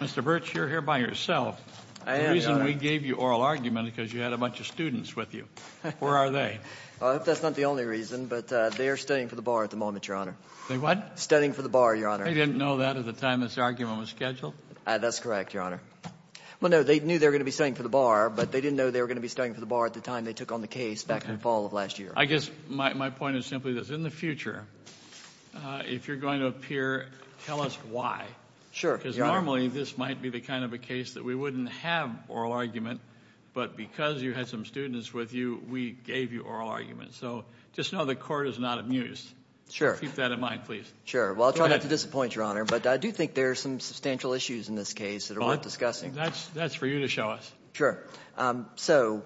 Mr. Birch, you're here by yourself. The reason we gave you oral argument is because you had a bunch of students with you. Where are they? I hope that's not the only reason, but they are studying for the bar at the moment, Your Honor. They what? Studying for the bar, Your Honor. They didn't know that at the time this argument was scheduled? That's correct, Your Honor. Well, no, they knew they were going to be studying for the bar, but they didn't know they were going to be studying for the bar at the time they took on the case back in the fall of last year. I guess my point is simply this. In the future, if you're going to appear, tell us why. Sure, Your Honor. Because normally this might be the kind of a case that we wouldn't have oral argument, but because you had some students with you, we gave you oral argument. So just know the court is not amused. Sure. Keep that in mind, please. Sure. Well, I'll try not to disappoint, Your Honor, but I do think there are some substantial issues in this case that are worth discussing. That's for you to show us. Sure. So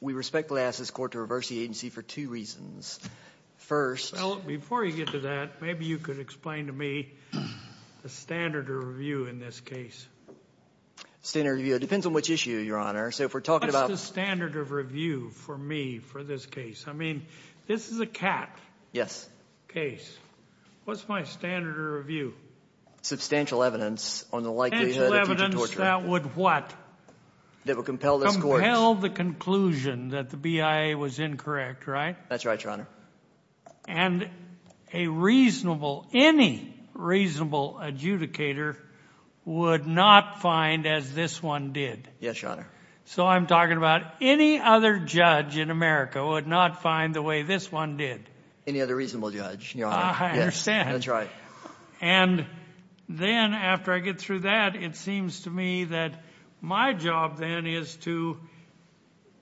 we respectfully ask this court to reverse the agency for two reasons. First— Well, before you get to that, maybe you could explain to me the standard of review in this case. Standard of review. It depends on which issue, Your Honor. So if we're talking about— What's the standard of review for me for this case? I mean, this is a CAT case. Yes. What's my standard of review? Substantial evidence on the likelihood of future torture. Substantial evidence that would what? That would compel this court— Compel the conclusion that the BIA was incorrect, right? That's right, Your Honor. And a reasonable—any reasonable adjudicator would not find as this one did. Yes, Your Honor. So I'm talking about any other judge in America would not find the way this one did. Any other reasonable judge, Your Honor. I understand. That's right. And then after I get through that, it seems to me that my job then is to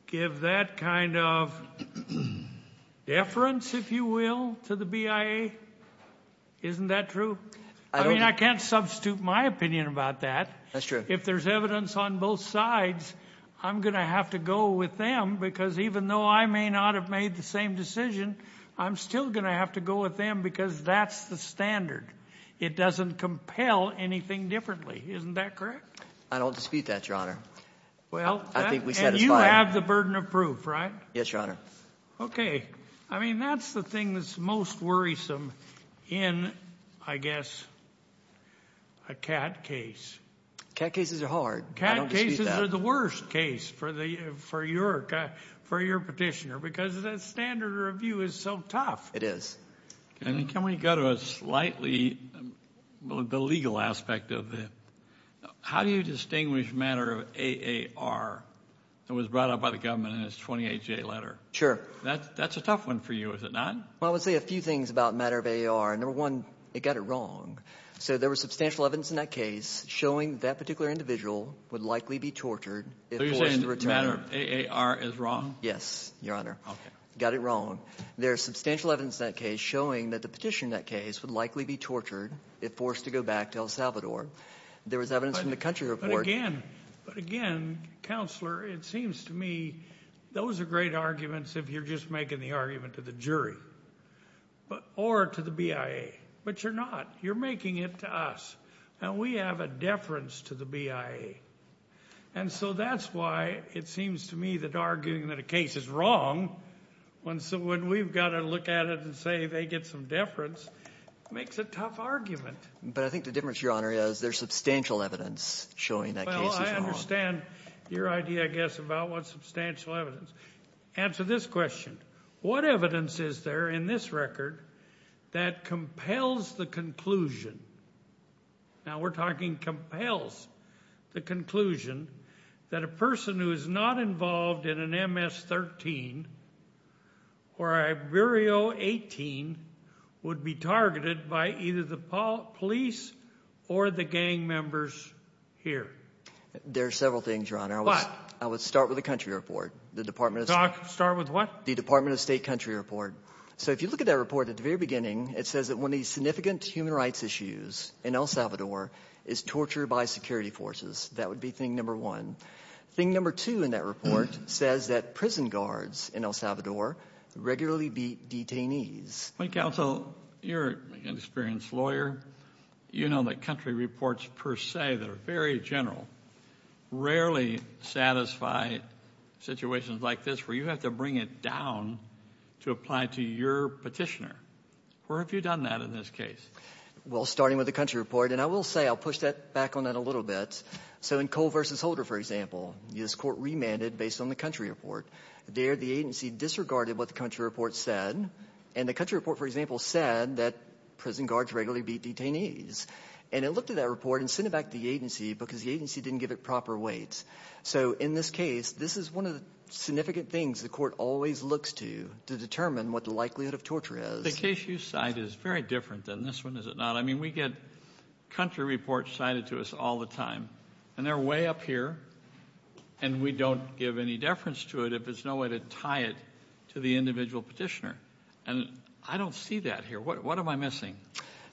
give that kind of deference, if you will, to the BIA. Isn't that true? I don't— I mean, I can't substitute my opinion about that. That's true. If there's evidence on both sides, I'm going to have to go with them because even though I may not have made the same decision, I'm still going to have to go with them because that's the standard. It doesn't compel anything differently. Isn't that correct? I don't dispute that, Your Honor. Well— I think we satisfied— And you have the burden of proof, right? Yes, Your Honor. Okay. I mean, that's the thing that's most worrisome in, I guess, a CAT case. CAT cases are hard. I don't dispute that. CAT cases are the worst case for your petitioner because the standard of review is so tough. It is. Can we go to a slightly—well, the legal aspect of it? How do you distinguish matter of AAR that was brought out by the government in its 28-J letter? Sure. That's a tough one for you, is it not? Well, I would say a few things about matter of AAR. Number one, it got it wrong. So there was substantial evidence in that case showing that that particular individual would likely be tortured if forced to return— So you're saying matter of AAR is wrong? Yes, Your Honor. Okay. Got it wrong. There is substantial evidence in that case showing that the petitioner in that case would likely be tortured if forced to go back to El Salvador. There was evidence from the country report— But again, but again, Counselor, it seems to me those are great arguments if you're just making the argument to the jury or to the BIA. But you're not. You're making it to us. And we have a deference to the BIA. And so that's why it seems to me that arguing that a case is wrong when we've got to look at it and say they get some deference makes a tough argument. But I think the difference, Your Honor, is there's substantial evidence showing that case is wrong. Well, I understand your idea, I guess, about what substantial evidence. Answer this question. What evidence is there in this record that compels the conclusion—now, we're talking compels the conclusion—that a person who is not involved in an MS-13 or Iberio 18 would be targeted by either the police or the gang members here? There are several things, Your Honor. What? I would start with the country report. The Department of State— Start with what? The Department of State country report. So if you look at that report at the very beginning, it says that one of the significant human rights issues in El Salvador is torture by security forces. That would be thing number one. Thing number two in that report says that prison guards in El Salvador regularly beat detainees. Counsel, you're an experienced lawyer. You know that country reports per se that are very general rarely satisfy situations like this where you have to bring it down to apply to your petitioner. Where have you done that in this case? Well, starting with the country report, and I will say I'll push back on that a little bit. So in Cole v. Holder, for example, this court remanded based on the country report. There the agency disregarded what the country report said, and the country report, for example, said that prison guards regularly beat detainees. And it looked at that report and sent it back to the agency because the agency didn't give it proper weight. So in this case, this is one of the significant things the court always looks to to determine what the likelihood of torture is. The case you cite is very different than this one, is it not? I mean, we get country reports cited to us all the time, and they're way up here, and we don't give any deference to it if there's no way to tie it to the individual petitioner. And I don't see that here. What am I missing?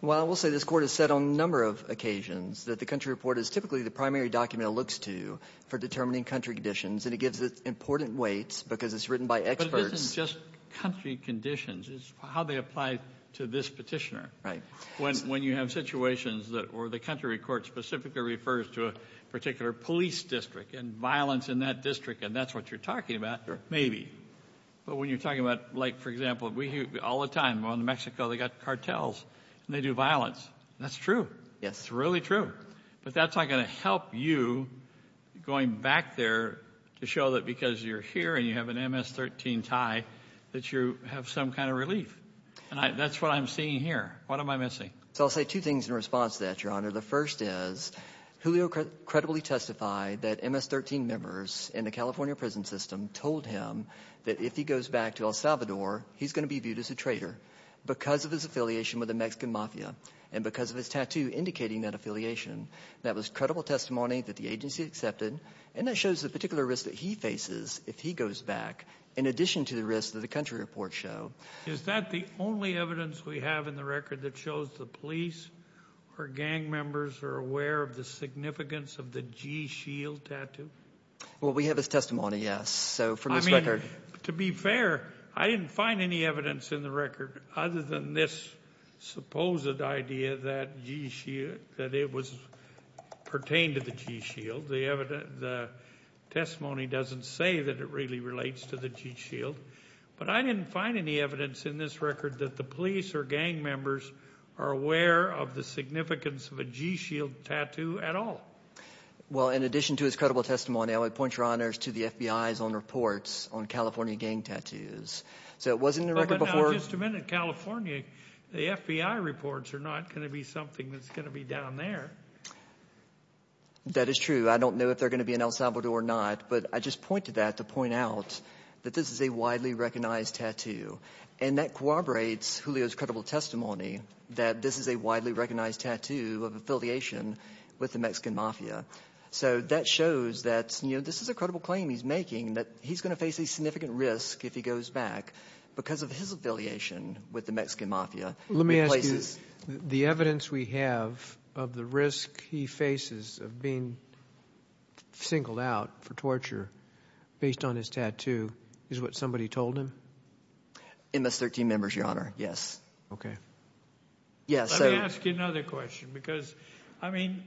Well, I will say this court has said on a number of occasions that the country report is typically the primary document it looks to for determining country conditions, and it gives it important weights because it's written by experts. But this is just country conditions. It's how they apply to this petitioner. Right. When you have situations that, or the country report specifically refers to a particular police district and violence in that district, and that's what you're talking about, maybe. But when you're talking about, like, for example, we hear all the time, well, in Mexico they've got cartels, and they do violence. That's true. Yes. It's really true. But that's not going to help you going back there to show that because you're here and you have an MS-13 tie that you have some kind of relief. And that's what I'm seeing here. What am I missing? So I'll say two things in response to that, Your Honor. The first is Julio credibly testified that MS-13 members in the California prison system told him that if he goes back to El Salvador, he's going to be viewed as a traitor because of his affiliation with the Mexican mafia and because of his tattoo indicating that affiliation. That was credible testimony that the agency accepted, and that shows the particular risk that he faces if he goes back in addition to the risk that the country reports show. Is that the only evidence we have in the record that shows the police or gang members are aware of the significance of the G-Shield tattoo? Well, we have his testimony, yes, so from his record. I mean, to be fair, I didn't find any evidence in the record other than this supposed idea that it pertained to the G-Shield. The testimony doesn't say that it really relates to the G-Shield. But I didn't find any evidence in this record that the police or gang members are aware of the significance of a G-Shield tattoo at all. Well, in addition to his credible testimony, I would point your honors to the FBI's own reports on California gang tattoos. So it was in the record before – But now, just a minute. California, the FBI reports are not going to be something that's going to be down there. That is true. I don't know if they're going to be in El Salvador or not. But I just pointed that to point out that this is a widely recognized tattoo. And that corroborates Julio's credible testimony that this is a widely recognized tattoo of affiliation with the Mexican mafia. So that shows that this is a credible claim he's making that he's going to face a significant risk if he goes back because of his affiliation with the Mexican mafia. Let me ask you, the evidence we have of the risk he faces of being singled out for torture based on his tattoo is what somebody told him? MS-13 members, your honor, yes. Okay. Let me ask you another question because, I mean,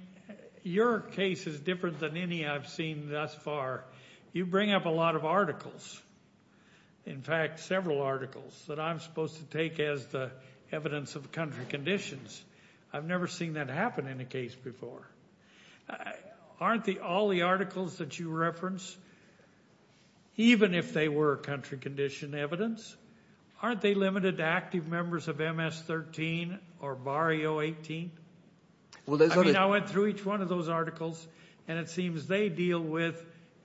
your case is different than any I've seen thus far. You bring up a lot of articles. In fact, several articles that I'm supposed to take as the evidence of country conditions. I've never seen that happen in a case before. Aren't all the articles that you reference, even if they were country condition evidence, aren't they limited to active members of MS-13 or Barrio 18? I mean I went through each one of those articles, and it seems they deal with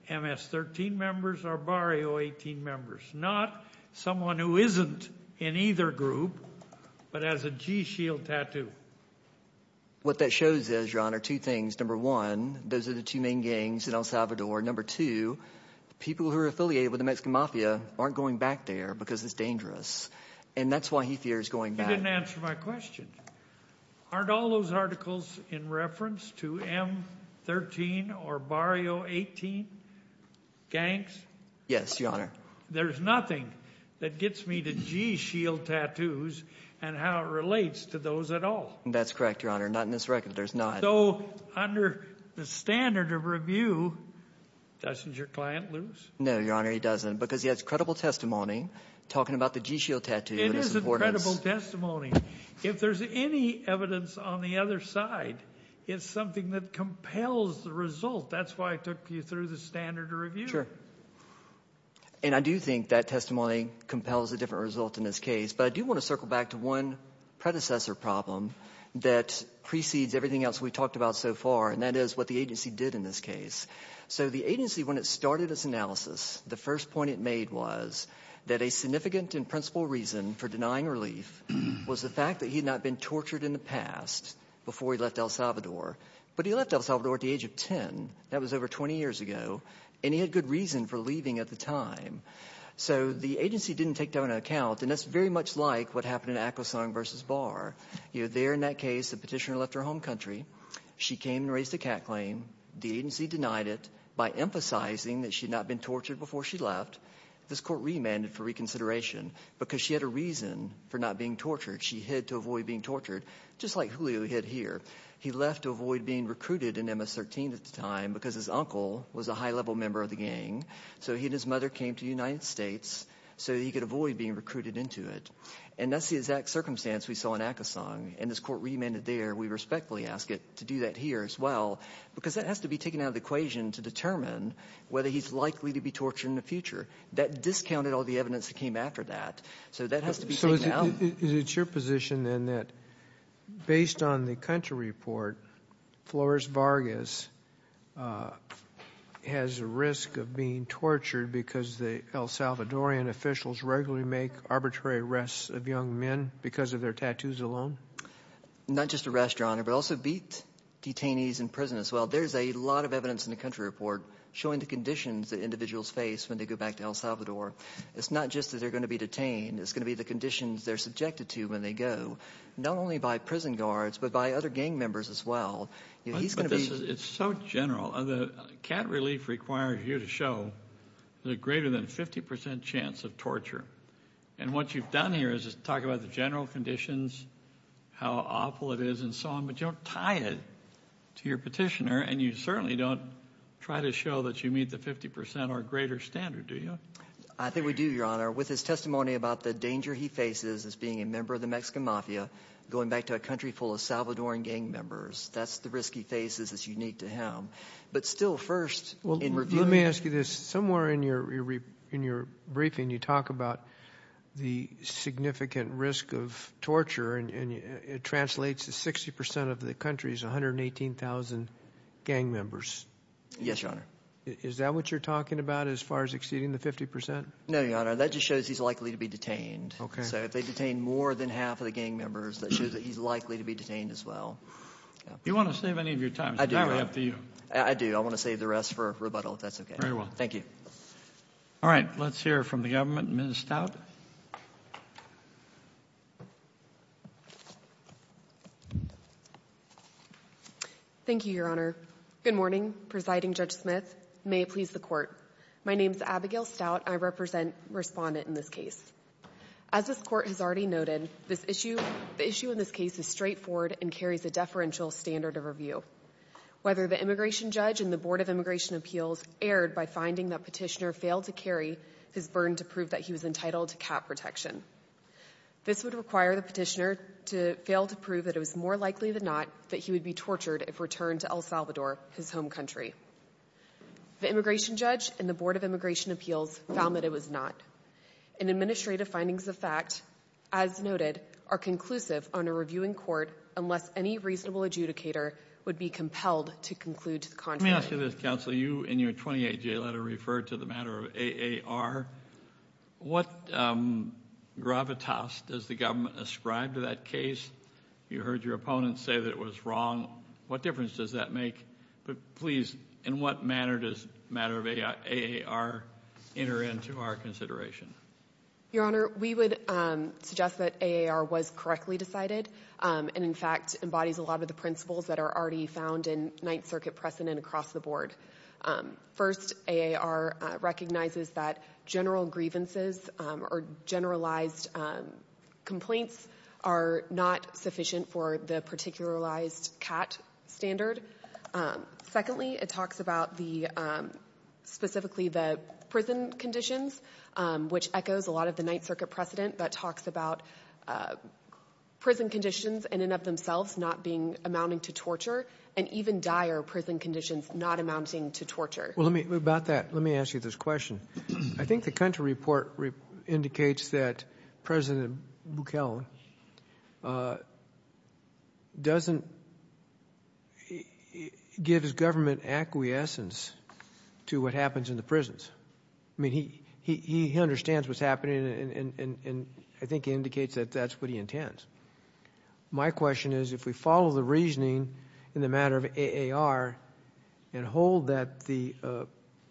MS-13 members or Barrio 18 members, not someone who isn't in either group but has a G-shield tattoo. What that shows is, your honor, two things. Number one, those are the two main gangs in El Salvador. Number two, people who are affiliated with the Mexican mafia aren't going back there because it's dangerous, and that's why he fears going back. You didn't answer my question. Aren't all those articles in reference to M-13 or Barrio 18 gangs? Yes, your honor. There's nothing that gets me to G-shield tattoos and how it relates to those at all. That's correct, your honor. Not in this record. There's not. So under the standard of review, doesn't your client lose? No, your honor, he doesn't because he has credible testimony talking about the G-shield tattoo. It is a credible testimony. If there's any evidence on the other side, it's something that compels the result. That's why I took you through the standard of review. And I do think that testimony compels a different result in this case, but I do want to circle back to one predecessor problem that precedes everything else we've talked about so far, and that is what the agency did in this case. So the agency, when it started its analysis, the first point it made was that a significant and principal reason for denying relief was the fact that he had not been tortured in the past before he left El Salvador. But he left El Salvador at the age of 10. That was over 20 years ago, and he had good reason for leaving at the time. So the agency didn't take that into account, and that's very much like what happened in Akwesong v. Barr. You know, there in that case, the petitioner left her home country. She came and raised a cat claim. The agency denied it by emphasizing that she had not been tortured before she left. This court remanded for reconsideration because she had a reason for not being tortured. She hid to avoid being tortured, just like Julio hid here. He left to avoid being recruited in MS-13 at the time because his uncle was a high-level member of the gang. So he and his mother came to the United States so he could avoid being recruited into it. And that's the exact circumstance we saw in Akwesong, and this court remanded there. We respectfully ask it to do that here as well because that has to be taken out of the equation to determine whether he's likely to be tortured in the future. That discounted all the evidence that came after that, so that has to be taken out. So is it your position then that based on the country report, Flores Vargas has a risk of being tortured because the El Salvadorian officials regularly make arbitrary arrests of young men because of their tattoos alone? Not just arrests, Your Honor, but also beat detainees in prison as well. There's a lot of evidence in the country report showing the conditions that individuals face when they go back to El Salvador. It's not just that they're going to be detained. It's going to be the conditions they're subjected to when they go, not only by prison guards but by other gang members as well. It's so general. The cat relief requires you to show there's a greater than 50 percent chance of torture. And what you've done here is talk about the general conditions, how awful it is, and so on, but you don't tie it to your petitioner, and you certainly don't try to show that you meet the 50 percent or greater standard, do you? I think we do, Your Honor, with his testimony about the danger he faces as being a member of the Mexican mafia going back to a country full of Salvadoran gang members. That's the risk he faces that's unique to him. But still, first in review. Let me ask you this. Somewhere in your briefing you talk about the significant risk of torture, and it translates to 60 percent of the country's 118,000 gang members. Yes, Your Honor. Is that what you're talking about as far as exceeding the 50 percent? No, Your Honor. That just shows he's likely to be detained. So if they detain more than half of the gang members, that shows that he's likely to be detained as well. Do you want to save any of your time? I do. It's probably up to you. I do. I want to save the rest for rebuttal, if that's okay. Very well. Thank you. All right. Let's hear from the government. Ms. Stout. Thank you, Your Honor. Good morning, Presiding Judge Smith. May it please the Court. My name is Abigail Stout, and I represent the respondent in this case. As this Court has already noted, the issue in this case is straightforward and carries a deferential standard of review. Whether the immigration judge and the Board of Immigration Appeals erred by finding that Petitioner failed to carry his burn to prove that he was entitled to cap protection. This would require the Petitioner to fail to prove that it was more likely than not that he would be tortured if returned to El Salvador, his home country. The immigration judge and the Board of Immigration Appeals found that it was not. And administrative findings of fact, as noted, are conclusive on a reviewing court unless any reasonable adjudicator would be compelled to conclude to the Let me ask you this, Counsel. You, in your 28-J letter, referred to the matter of AAR. What gravitas does the government ascribe to that case? You heard your opponent say that it was wrong. What difference does that make? But please, in what manner does the matter of AAR enter into our consideration? Your Honor, we would suggest that AAR was correctly decided and, in fact, embodies a lot of the principles that are already found in Ninth Circuit precedent across the board. First, AAR recognizes that general grievances or generalized complaints are not sufficient for the particularized CAT standard. Secondly, it talks about specifically the prison conditions, which echoes a lot of the Ninth Circuit precedent, but talks about prison conditions in and of themselves not amounting to torture and even dire prison conditions not amounting to torture. Well, about that, let me ask you this question. I think the country report indicates that President Buchanan doesn't give his government acquiescence to what happens in the prisons. I mean, he understands what's happening, and I think he indicates that that's what he intends. My question is, if we follow the reasoning in the matter of AAR and hold that the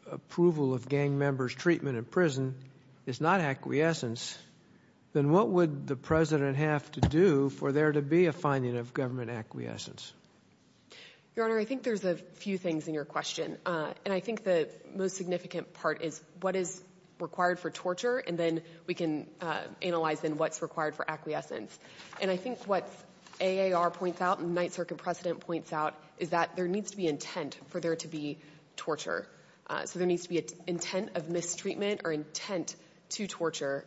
approval of gang members' treatment in prison is not acquiescence, then what would the President have to do for there to be a finding of government acquiescence? Your Honor, I think there's a few things in your question, and I think the most significant part is what is required for torture, and then we can analyze then what's required for acquiescence. And I think what AAR points out and Ninth Circuit precedent points out is that there needs to be intent for there to be torture. So there needs to be an intent of mistreatment or intent to torture.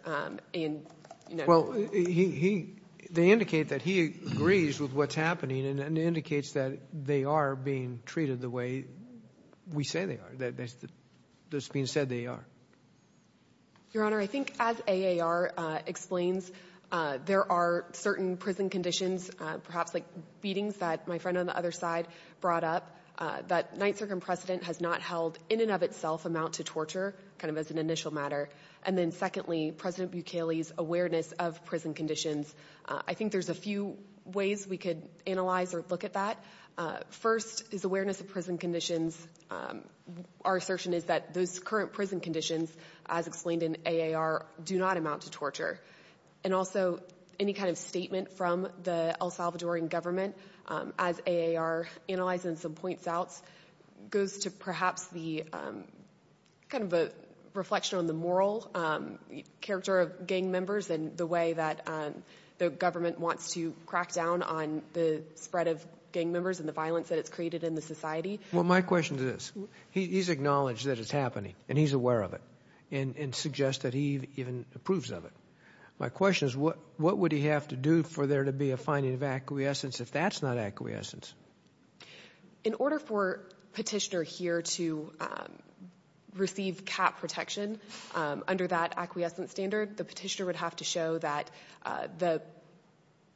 Well, they indicate that he agrees with what's happening and indicates that they are being treated the way we say they are, that it's being said they are. Your Honor, I think as AAR explains, there are certain prison conditions, perhaps like beatings that my friend on the other side brought up, that Ninth Circuit precedent has not held in and of itself amount to torture, kind of as an initial matter. And then secondly, President Bukele's awareness of prison conditions, I think there's a few ways we could analyze or look at that. First is awareness of prison conditions. Our assertion is that those current prison conditions, as explained in AAR, do not amount to torture. And also any kind of statement from the El Salvadoran government, as AAR analyzes and some points out, goes to perhaps the kind of reflection on the moral character of gang members and the way that the government wants to crack down on the spread of gang members and the violence that it's created in the society. Well, my question to this, he's acknowledged that it's happening and he's aware of it and suggests that he even approves of it. My question is what would he have to do for there to be a finding of acquiescence if that's not acquiescence? In order for Petitioner here to receive cap protection under that acquiescent standard, the Petitioner would have to show that the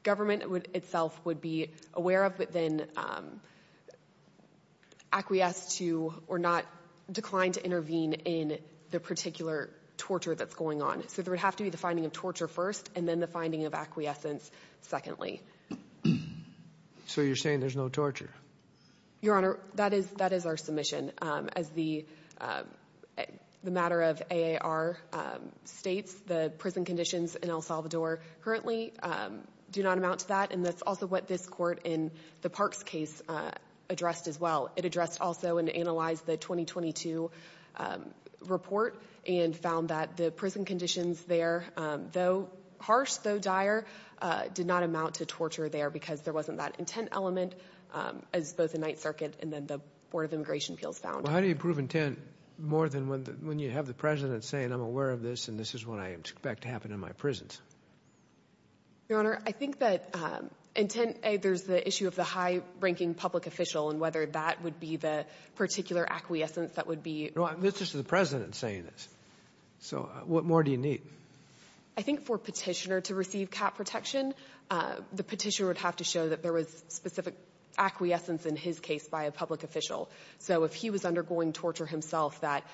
government itself would be aware of but then acquiesce to or not decline to intervene in the particular torture that's going on. So there would have to be the finding of torture first and then the finding of So you're saying there's no torture? Your Honor, that is our submission. As the matter of AAR states, the prison conditions in El Salvador currently do not amount to that and that's also what this court in the Parks case addressed as well. It addressed also and analyzed the 2022 report and found that the prison conditions there, though harsh, though dire, did not amount to torture there because there wasn't that intent element as both the Ninth Circuit and then the Board of Immigration Appeals found. Well, how do you prove intent more than when you have the President saying, I'm aware of this and this is what I expect to happen in my prisons? Your Honor, I think that intent, there's the issue of the high-ranking public official and whether that would be the particular acquiescence that would be No, this is the President saying this. So what more do you need? I think for Petitioner to receive cap protection, the Petitioner would have to show that there was specific acquiescence in his case by a public official. So if he was undergoing torture himself, that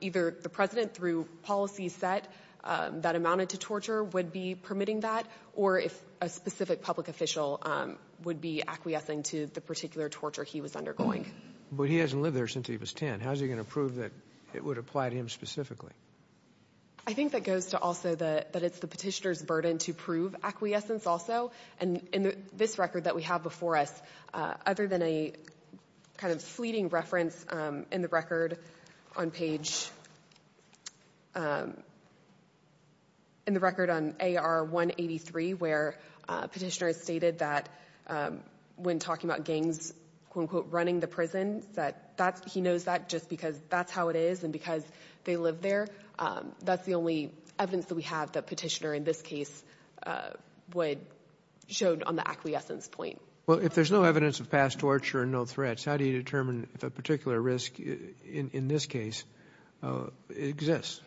either the President through policy set that amounted to torture would be permitting that or if a specific public official would be acquiescing to the particular torture he was undergoing. But he hasn't lived there since he was 10. How is he going to prove that it would apply to him specifically? I think that goes to also that it's the Petitioner's burden to prove acquiescence also. And in this record that we have before us, other than a kind of fleeting reference in the record on page, in the record on AR 183, where Petitioner has stated that when talking about gangs, quote-unquote, running the prison, that he knows that just because that's how it is and because they live there. That's the only evidence that we have that Petitioner in this case would show on the acquiescence point. Well, if there's no evidence of past torture and no threats, how do you determine if a particular risk in this case exists?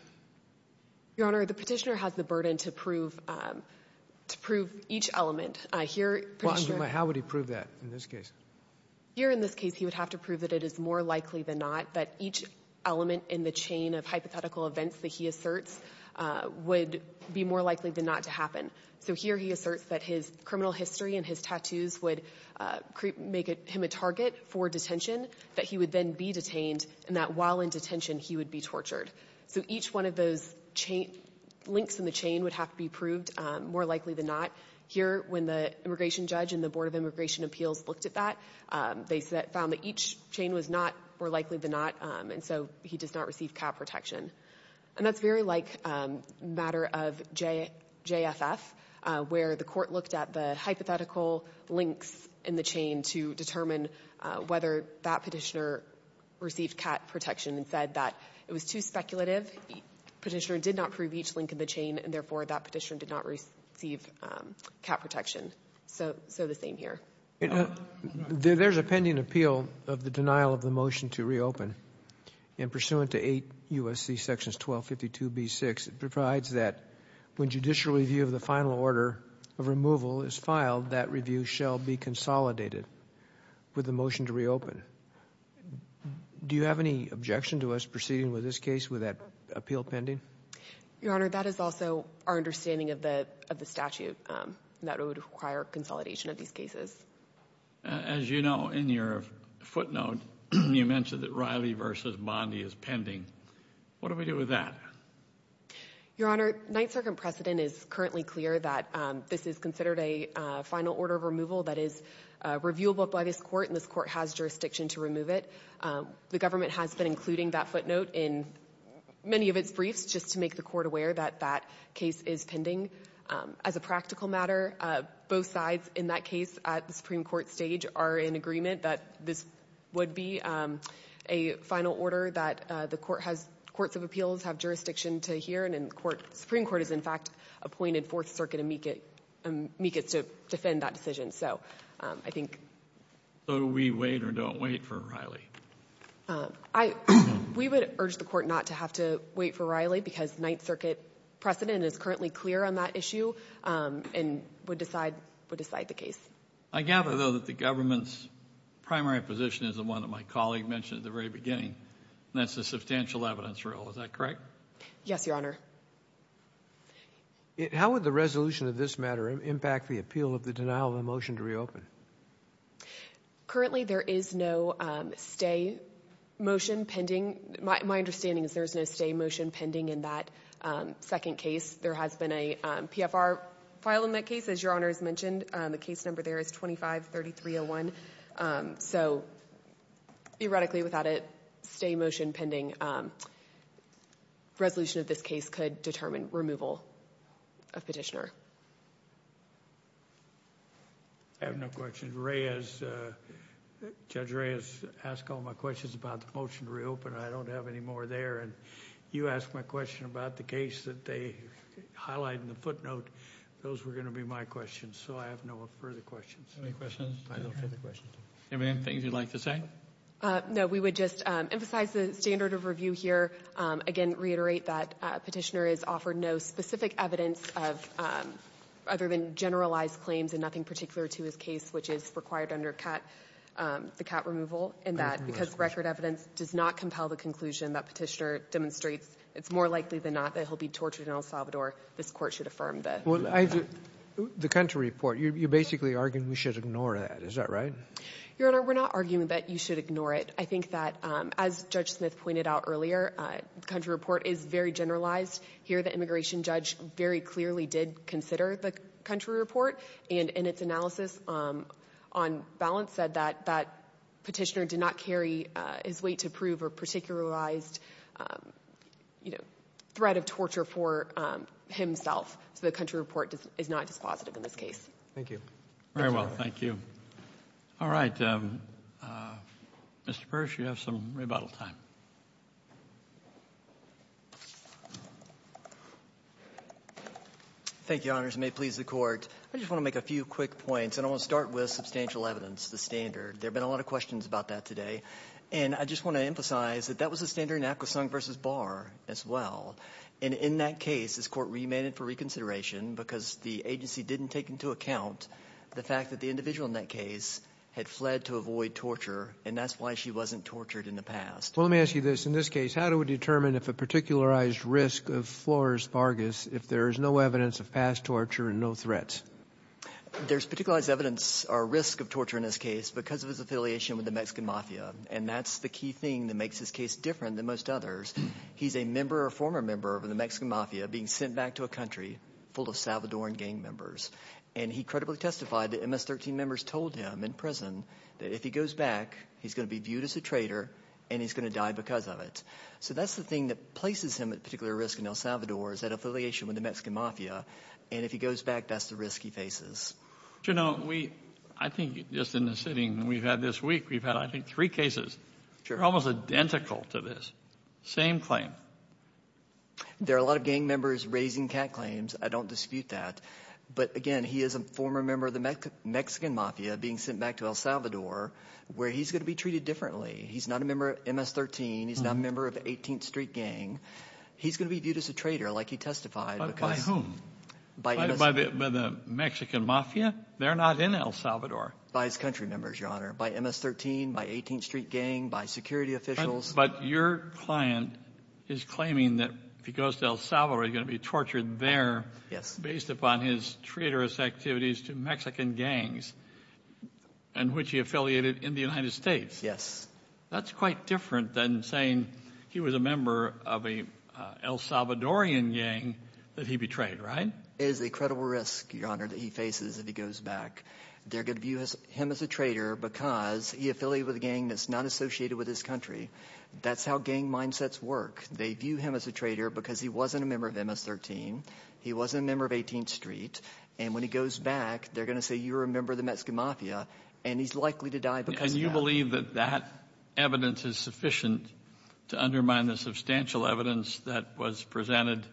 Your Honor, the Petitioner has the burden to prove each element. How would he prove that in this case? Here in this case he would have to prove that it is more likely than not that each element in the chain of hypothetical events that he asserts would be more likely than not to happen. So here he asserts that his criminal history and his tattoos would make him a target for detention, that he would then be detained, and that while in detention he would be tortured. So each one of those links in the chain would have to be proved more likely than not. Here, when the immigration judge and the Board of Immigration Appeals looked at that, they found that each chain was not more likely than not, and so he does not receive cat protection. And that's very like a matter of JFF, where the court looked at the hypothetical links in the chain to determine whether that Petitioner received cat protection and said that it was too speculative, Petitioner did not prove each link in the chain, and therefore that Petitioner did not receive cat protection. So the same here. There's a pending appeal of the denial of the motion to reopen, and pursuant to 8 U.S.C. sections 1252b6, it provides that when judicial review of the final order of removal is filed, that review shall be consolidated with the motion to reopen. Do you have any objection to us proceeding with this case with that appeal pending? Your Honor, that is also our understanding of the statute, that it would require consolidation of these cases. As you know, in your footnote, you mentioned that Riley v. Bondi is pending. What do we do with that? Your Honor, Ninth Circuit precedent is currently clear that this is considered a final order of removal that is reviewable by this court, and this court has jurisdiction to remove it. The government has been including that footnote in many of its briefs just to make the court aware that that case is pending. As a practical matter, both sides in that case at the Supreme Court stage are in agreement that this would be a final order that the courts of appeals have jurisdiction to hear, and the Supreme Court has, in fact, appointed Fourth Circuit amicus to defend that decision. So do we wait or don't wait for Riley? We would urge the court not to have to wait for Riley because Ninth Circuit precedent is currently clear on that issue and would decide the case. I gather, though, that the government's primary position is the one that my colleague mentioned at the very beginning, and that's the substantial evidence rule. Is that correct? Yes, Your Honor. How would the resolution of this matter impact the appeal of the denial of a motion to reopen? Currently there is no stay motion pending. My understanding is there is no stay motion pending in that second case. There has been a PFR file in that case, as Your Honor has mentioned. The case number there is 25-3301. So, theoretically, without a stay motion pending, resolution of this case could determine removal of petitioner. I have no questions. Judge Reyes asked all my questions about the motion to reopen. I don't have any more there, and you asked my question about the case that they highlighted in the footnote. Those were going to be my questions, so I have no further questions. Any questions? I have no further questions. Anything you'd like to say? No. We would just emphasize the standard of review here. Again, reiterate that Petitioner is offered no specific evidence other than generalized claims and nothing particular to his case, which is required under the cat removal, and that because record evidence does not compel the conclusion that Petitioner demonstrates it's more likely than not that he'll be tortured in El Salvador, this Court should affirm that. Well, the country report, you're basically arguing we should ignore that. Is that right? Your Honor, we're not arguing that you should ignore it. I think that, as Judge Smith pointed out earlier, the country report is very generalized. Here, the immigration judge very clearly did consider the country report, and in its analysis on balance said that Petitioner did not carry his weight to prove a particularized, you know, threat of torture for himself. So the country report is not dispositive in this case. Thank you. Very well. Thank you. All right. Mr. Persh, you have some rebuttal time. Thank you, Your Honors. It may please the Court. I just want to make a few quick points, and I want to start with substantial evidence, the standard. There have been a lot of questions about that today. And I just want to emphasize that that was the standard in Akwesasne v. Barr as well. And in that case, this Court remained it for reconsideration because the agency didn't take into account the fact that the individual in that case had fled to avoid torture, and that's why she wasn't tortured in the past. Well, let me ask you this. In this case, how do we determine if a particularized risk of Flores-Vargas, if there is no evidence of past torture and no threats? There's particularized evidence or risk of torture in this case because of his affiliation with the Mexican Mafia, and that's the key thing that makes this case different than most others. He's a member or former member of the Mexican Mafia being sent back to a country full of Salvadoran gang members. And he credibly testified that MS-13 members told him in prison that if he goes back, he's going to be viewed as a traitor and he's going to die because of it. So that's the thing that places him at particular risk in El Salvador is that affiliation with the Mexican Mafia, and if he goes back, that's the risk he faces. You know, I think just in the sitting we've had this week, we've had, I think, three cases. They're almost identical to this. Same claim. There are a lot of gang members raising cat claims. I don't dispute that. But, again, he is a former member of the Mexican Mafia being sent back to El Salvador where he's going to be treated differently. He's not a member of MS-13. He's not a member of the 18th Street Gang. He's going to be viewed as a traitor like he testified. By whom? By the Mexican Mafia? They're not in El Salvador. By his country members, Your Honor. By MS-13, by 18th Street Gang, by security officials. But your client is claiming that if he goes to El Salvador, he's going to be tortured there. Yes. Based upon his traitorous activities to Mexican gangs in which he affiliated in the United States. Yes. That's quite different than saying he was a member of an El Salvadorian gang that he betrayed, right? It is a credible risk, Your Honor, that he faces if he goes back. They're going to view him as a traitor because he affiliated with a gang that's not associated with his country. That's how gang mindsets work. They view him as a traitor because he wasn't a member of MS-13. He wasn't a member of 18th Street. And when he goes back, they're going to say you were a member of the Mexican Mafia. And he's likely to die because of that. Can you believe that that evidence is sufficient to undermine the substantial evidence that was presented to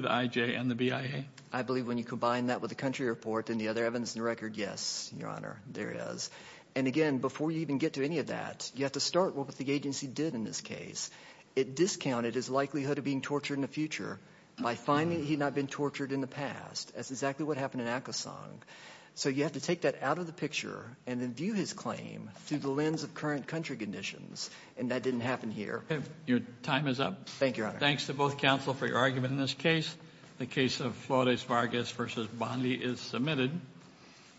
the IJ and the BIA? I believe when you combine that with the country report and the other evidence in the record, yes, Your Honor, there it is. And, again, before you even get to any of that, you have to start with what the agency did in this case. It discounted his likelihood of being tortured in the future by finding that he had not been tortured in the past. That's exactly what happened in Acosong. So you have to take that out of the picture and then view his claim through the lens of current country conditions, and that didn't happen here. Your time is up. Thank you, Your Honor. Thanks to both counsel for your argument in this case. The case of Flores-Vargas v. Bondi is submitted.